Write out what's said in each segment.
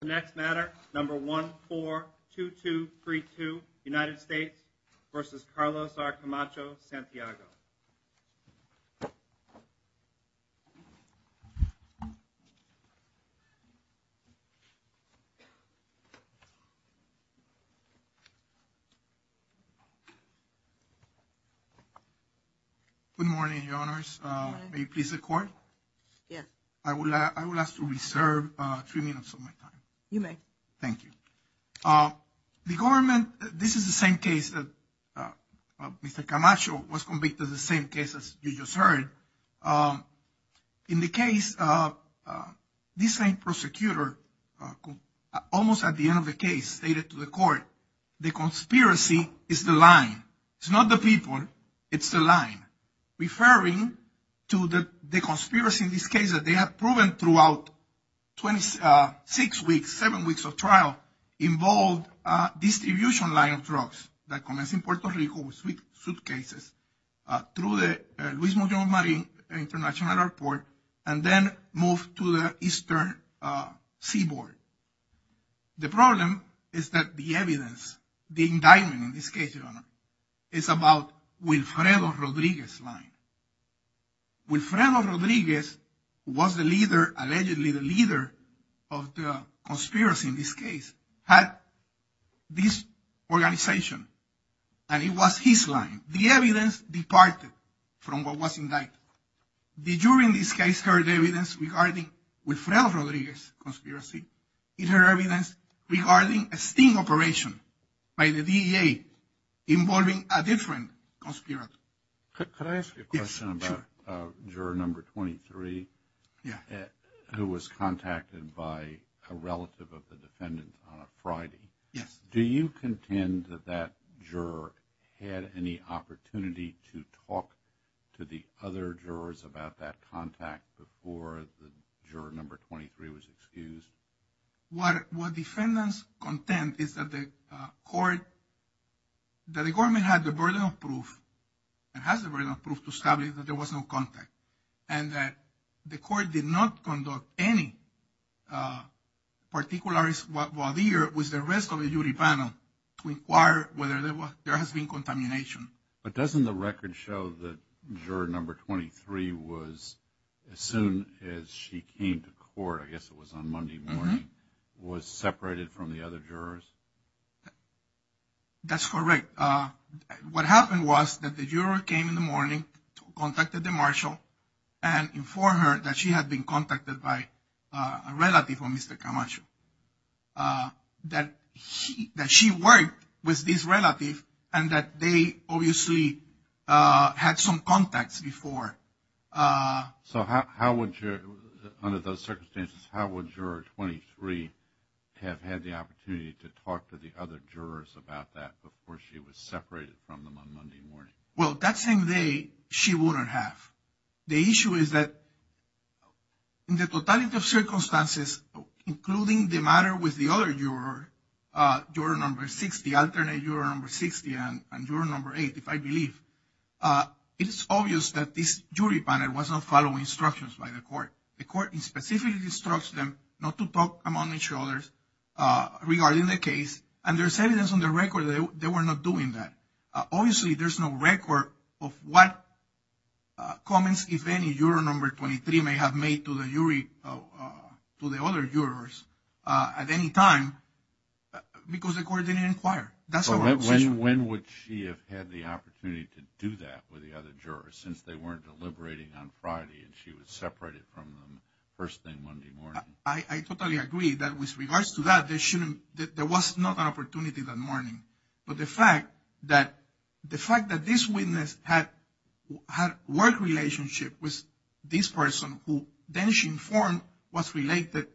The next matter, number 142232, United States v. Carlos R. Camacho-Santiago Good morning, your honors. May you please record? Yes I would ask to reserve three minutes of my time. You may. Thank you. The government, this is the same case that Mr. Camacho was convicted, the same case as you just heard. In the case, this same prosecutor, almost at the end of the case, stated to the court, the conspiracy is the line. It's not the people, it's the line. Referring to the conspiracy in this case that they have proven throughout 26 weeks, 7 weeks of trial, involved a distribution line of drugs that commenced in Puerto Rico with suitcases through the Luis Miguel Marin International Airport and then moved to the eastern seaboard. The problem is that the evidence, the indictment in this case, your honor, is about Wilfredo Rodriguez's line. Wilfredo Rodriguez was the leader, allegedly the leader of the conspiracy in this case, had this organization and it was his line. The evidence departed from what was indicted. The jury in this case heard evidence regarding Wilfredo Rodriguez's conspiracy. It heard evidence regarding a sting operation by the DEA involving a different conspirator. Could I ask you a question about juror number 23? Yeah. Who was contacted by a relative of the defendant on a Friday. Yes. Do you contend that that juror had any opportunity to talk to the other jurors about that contact before the juror number 23 was excused? What defendants contend is that the court, that the government had the burden of proof and has the burden of proof to establish that there was no contact. And that the court did not conduct any particulars while the juror was the rest of the jury panel to inquire whether there has been contamination. But doesn't the record show that juror number 23 was, as soon as she came to court, I guess it was on Monday morning, was separated from the other jurors? That's correct. What happened was that the juror came in the morning, contacted the marshal, and informed her that she had been contacted by a relative of Mr. Camacho. That she worked with this relative and that they obviously had some contacts before. So how would, under those circumstances, how would juror 23 have had the opportunity to talk to the other jurors about that before she was separated from them on Monday morning? Well, that same day, she wouldn't have. The issue is that in the totality of circumstances, including the matter with the other juror, juror number 60, alternate juror number 60, and juror number 8, if I believe, it is obvious that this jury panel was not following instructions by the court. The court specifically instructs them not to talk among each other regarding the case. And there's evidence on the record that they were not doing that. Obviously, there's no record of what comments, if any, juror number 23 may have made to the other jurors at any time because the court didn't inquire. So when would she have had the opportunity to do that with the other jurors since they weren't deliberating on Friday and she was separated from them first thing Monday morning? I totally agree that with regards to that, there was not an opportunity that morning. But the fact that this witness had work relationship with this person who then she informed was related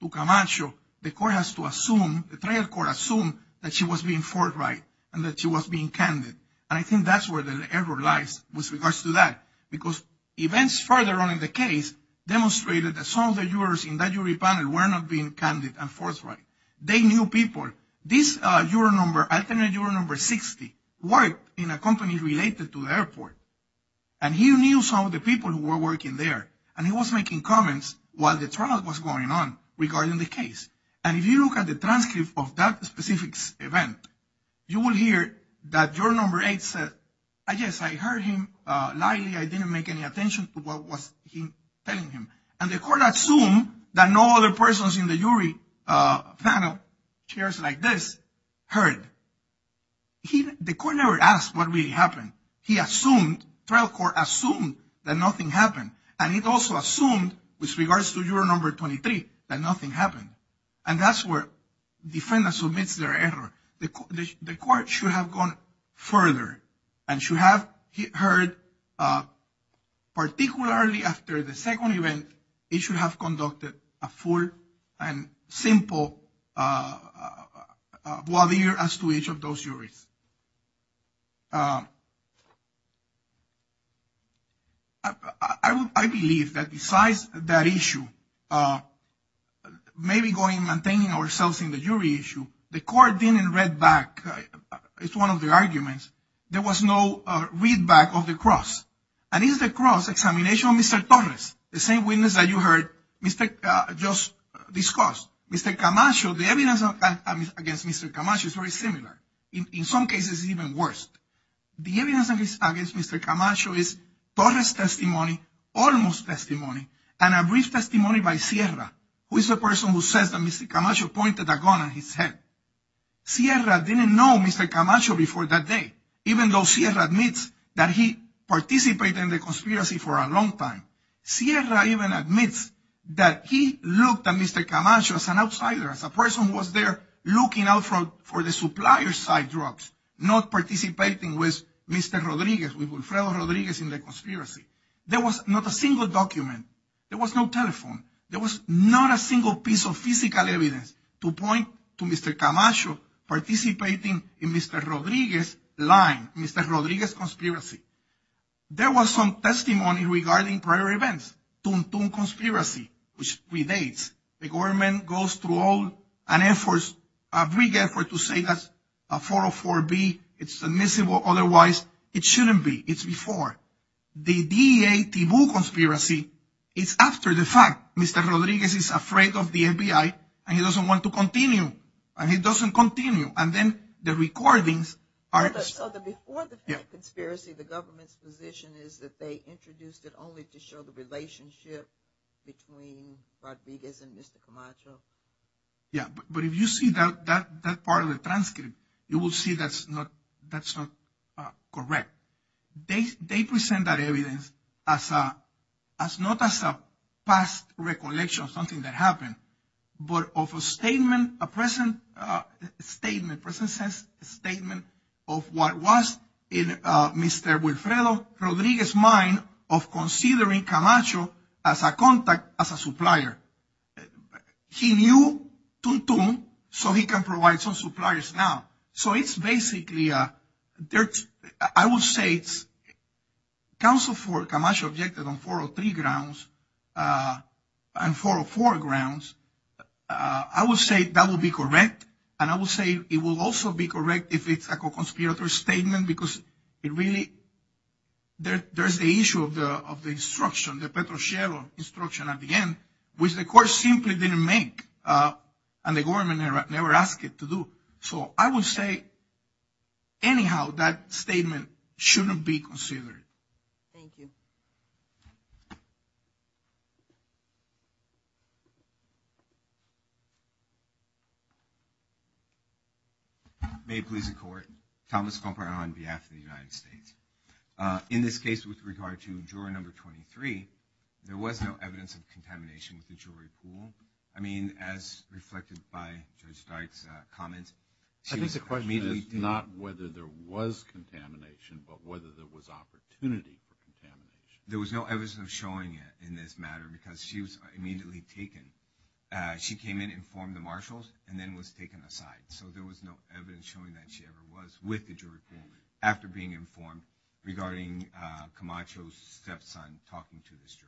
to Camacho, the court has to assume, the trial court assumed that she was being forthright and that she was being candid. And I think that's where the error lies with regards to that because events further on in the case demonstrated that some of the jurors in that jury panel were not being candid and forthright. They knew people. This juror number, alternate juror number 60, worked in a company related to the airport. And he knew some of the people who were working there. And he was making comments while the trial was going on regarding the case. And if you look at the transcript of that specific event, you will hear that juror number eight said, I guess I heard him lightly. I didn't make any attention to what was he telling him. And the court assumed that no other persons in the jury panel, chairs like this, heard. The court never asked what really happened. He assumed, trial court assumed, that nothing happened. And it also assumed, with regards to juror number 23, that nothing happened. And that's where the defendant submits their error. The court should have gone further and should have heard, particularly after the second event, it should have conducted a full and simple voir dire as to each of those juries. I believe that besides that issue, maybe going and maintaining ourselves in the jury issue, the court didn't read back. It's one of the arguments. There was no readback of the cross. And it's the cross examination of Mr. Torres, the same witness that you heard just discussed. Mr. Camacho, the evidence against Mr. Camacho is very similar. In some cases, even worse. The evidence against Mr. Camacho is Torres testimony, almost testimony, and a brief testimony by Sierra, who is the person who says that Mr. Camacho pointed a gun at his head. Sierra didn't know Mr. Camacho before that day, even though Sierra admits that he participated in the conspiracy for a long time. Sierra even admits that he looked at Mr. Camacho as an outsider, as a person who was there looking out for the supplier side drugs, not participating with Mr. Rodriguez, with Wilfredo Rodriguez in the conspiracy. There was not a single document. There was no telephone. There was not a single piece of physical evidence to point to Mr. Camacho participating in Mr. Rodriguez's line, Mr. Rodriguez's conspiracy. There was some testimony regarding prior events, Tum Tum Conspiracy, which relates. The government goes through all an effort, a big effort, to say that 404B, it's admissible. Otherwise, it shouldn't be. It's before. The DEA Tibu Conspiracy is after the fact. Mr. Rodriguez is afraid of the FBI, and he doesn't want to continue. And he doesn't continue. And then the recordings are – So the before the conspiracy, the government's position is that they introduced it only to show the relationship between Rodriguez and Mr. Camacho. Yeah, but if you see that part of the transcript, you will see that's not correct. They present that evidence as not as a past recollection of something that happened, but of a statement, a present statement, present sense statement of what was in Mr. Wilfredo Rodriguez's mind of considering Camacho as a contact, as a supplier. He knew Tum Tum, so he can provide some suppliers now. So it's basically – I will say it's – counsel for Camacho objected on 403 grounds and 404 grounds. I will say that will be correct, and I will say it will also be correct if it's a co-conspirator statement because it really – there's the issue of the instruction, the Petrochello instruction at the end, which the court simply didn't make, and the government never asked it to do. So I will say anyhow that statement shouldn't be considered. Thank you. May it please the court. Thomas Comper on behalf of the United States. In this case with regard to jury number 23, there was no evidence of contamination with the jewelry pool. I mean, as reflected by Judge Stark's comments, she was immediately taken. I think the question is not whether there was contamination, but whether there was opportunity for contamination. There was no evidence of showing it in this matter because she was immediately taken. She came in, informed the marshals, and then was taken aside. So there was no evidence showing that she ever was with the jewelry pool after being informed regarding Camacho's stepson talking to this juror.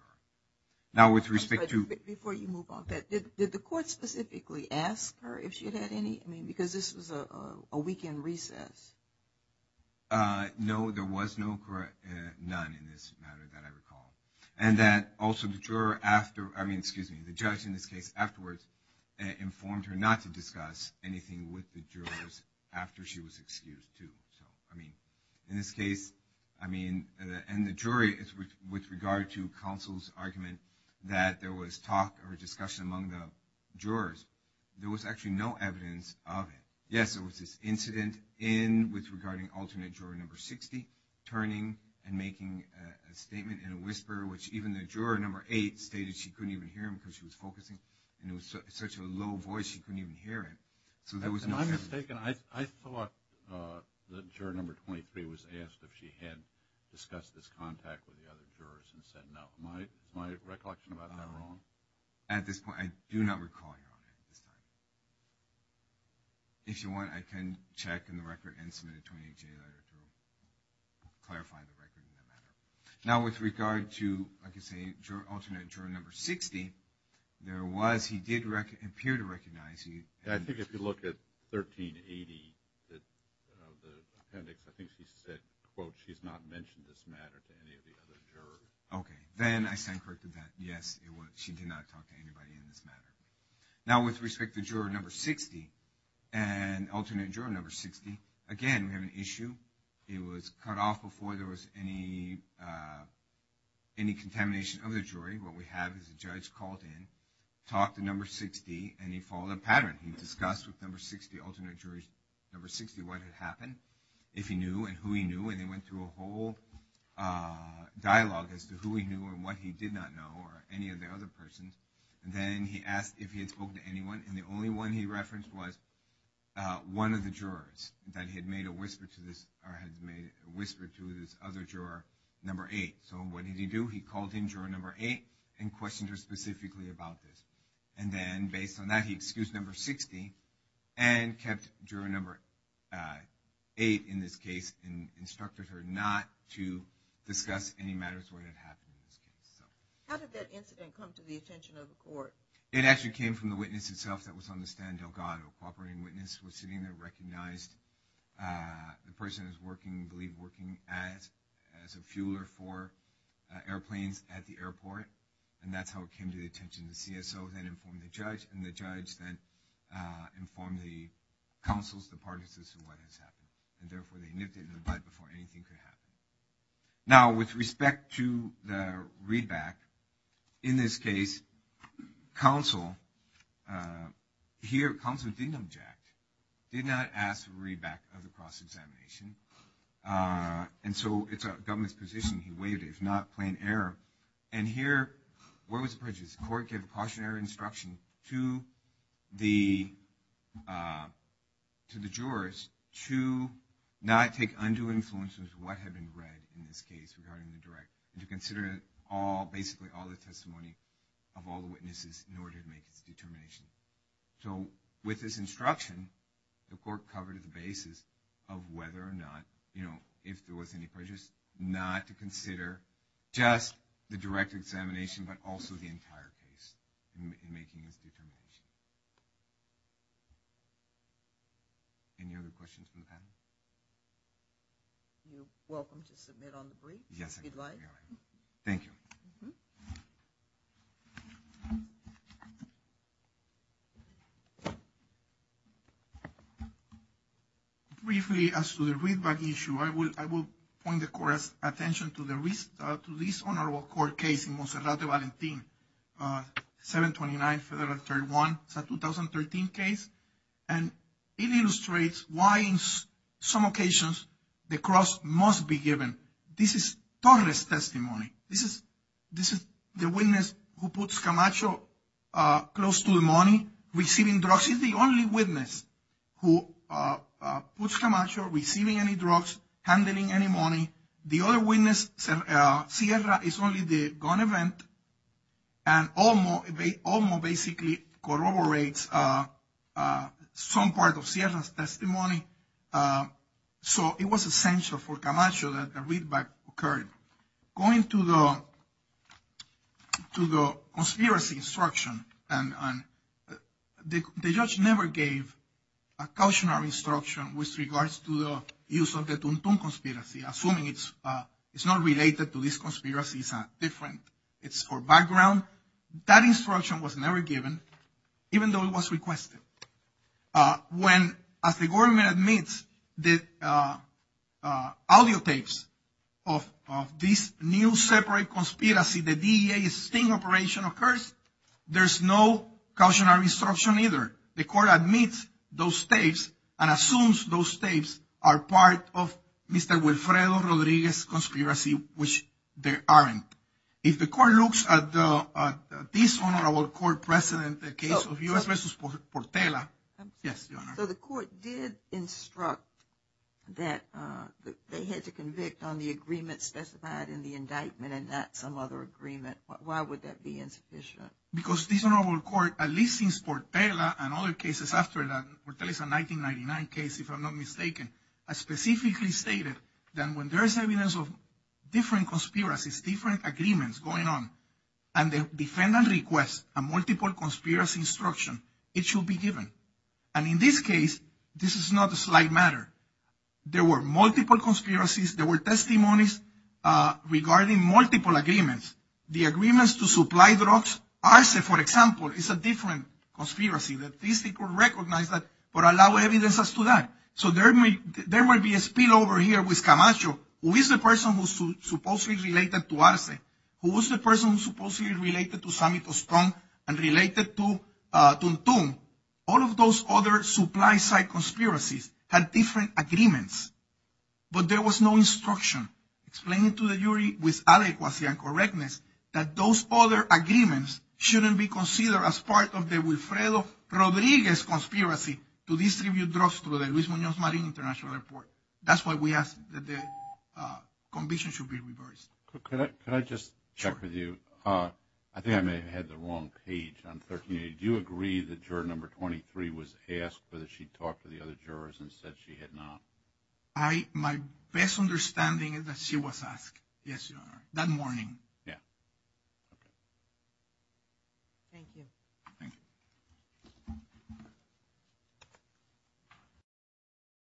Now, with respect to – Before you move on, did the court specifically ask her if she had any – I mean, because this was a weekend recess. No, there was no – none in this matter that I recall. And that also the juror after – I mean, excuse me, the judge in this case afterwards informed her not to discuss anything with the jurors after she was excused, too. I mean, in this case, I mean – and the jury, with regard to counsel's argument that there was talk or discussion among the jurors, there was actually no evidence of it. Yes, there was this incident in – with regarding alternate juror number 60 turning and making a statement in a whisper, which even the juror number 8 stated she couldn't even hear him because she was focusing, and it was such a low voice she couldn't even hear him. So there was no evidence. I'm mistaken. I thought that juror number 23 was asked if she had discussed this contact with the other jurors and said no. Am I recollecting about that wrong? No. At this point, I do not recall you on it at this time. If you want, I can check in the record and submit a 28-day letter to clarify the record in that matter. Now, with regard to, like I say, alternate juror number 60, there was – he did appear to recognize – I think if you look at 1380 of the appendix, I think she said, quote, she's not mentioned this matter to any of the other jurors. Okay. Then I sign corrected that. Yes, she did not talk to anybody in this matter. Now, with respect to juror number 60 and alternate juror number 60, again, we have an issue. It was cut off before there was any contamination of the jury. What we have is a judge called in, talked to number 60, and he followed a pattern. He discussed with number 60, alternate juror number 60, what had happened, if he knew and who he knew, and they went through a whole dialogue as to who he knew and what he did not know or any of the other persons. Then he asked if he had spoken to anyone, and the only one he referenced was one of the jurors that had made a whisper to this – or had made a whisper to this other juror, number 8. So what did he do? He called in juror number 8 and questioned her specifically about this. And then, based on that, he excused number 60 and kept juror number 8 in this case and instructed her not to discuss any matters where it had happened in this case. How did that incident come to the attention of the court? It actually came from the witness itself that was on the stand, Delgado. A cooperating witness was sitting there, recognized the person who was working, believed working as a fueler for airplanes at the airport, and that's how it came to the attention of the CSO, then informed the judge, and the judge then informed the counsels, the parties, as to what had happened. And therefore, they nipped it in the bud before anything could happen. Now, with respect to the readback, in this case, counsel – here, counsel didn't object, did not ask for a readback of the cross-examination, and so it's a government's position. He waived it, if not, plain error. And here, where was the prejudice? The court gave a cautionary instruction to the jurors to not take undue influence with what had been read in this case regarding the direct, and to consider basically all the testimony of all the witnesses in order to make its determination. So, with this instruction, the court covered the basis of whether or not, you know, if there was any prejudice, not to consider just the direct examination, but also the entire case in making this determination. Any other questions from the panel? You're welcome to submit on the brief if you'd like. Thank you. Briefly, as to the readback issue, I will point the court's attention to this honorable court case, in Monserrate Valentin, 729 Federal 31. It's a 2013 case, and it illustrates why, in some occasions, the cross must be given. This is Torres' testimony. This is the witness who puts Camacho close to the money, receiving drugs. He's the only witness who puts Camacho receiving any drugs, handling any money. The other witness, Sierra, is only the gun event. And Olmo basically corroborates some part of Sierra's testimony. So, it was essential for Camacho that a readback occurred. Going to the conspiracy instruction, the judge never gave a cautionary instruction with regards to the use of the Tum Tum conspiracy, assuming it's not related to this conspiracy, it's a different background. That instruction was never given, even though it was requested. When, as the government admits, the audio tapes of this new separate conspiracy, the DEA sting operation occurs, there's no cautionary instruction either. The court admits those tapes and assumes those tapes are part of Mr. Wilfredo Rodriguez's conspiracy, which they aren't. If the court looks at this honorable court precedent, the case of U.S. v. Portela, yes, Your Honor. So, the court did instruct that they had to convict on the agreement specified in the indictment and not some other agreement. Why would that be insufficient? Because this honorable court, at least since Portela and other cases after that, Portela is a 1999 case, if I'm not mistaken, specifically stated that when there is evidence of different conspiracies, different agreements going on, and the defendant requests a multiple conspiracy instruction, it should be given. And in this case, this is not a slight matter. There were multiple conspiracies. There were testimonies regarding multiple agreements. The agreements to supply drugs. Arce, for example, is a different conspiracy. These people recognize that but allow evidence as to that. So, there might be a spillover here with Camacho, who is the person who supposedly related to Arce, who was the person who supposedly related to Sammy Tostón and related to Tum Tum. All of those other supply-side conspiracies had different agreements, but there was no instruction explaining to the jury with adequacy and correctness that those other agreements shouldn't be considered as part of the Wilfredo Rodriguez conspiracy to distribute drugs through the Luis Muñoz Marin International Airport. That's why we ask that the conviction should be reversed. Could I just check with you? I think I may have had the wrong page on 1380. Do you agree that juror number 23 was asked whether she talked to the other jurors and said she had not? My best understanding is that she was asked, yes, Your Honor, that morning. Yeah. Thank you. Thank you.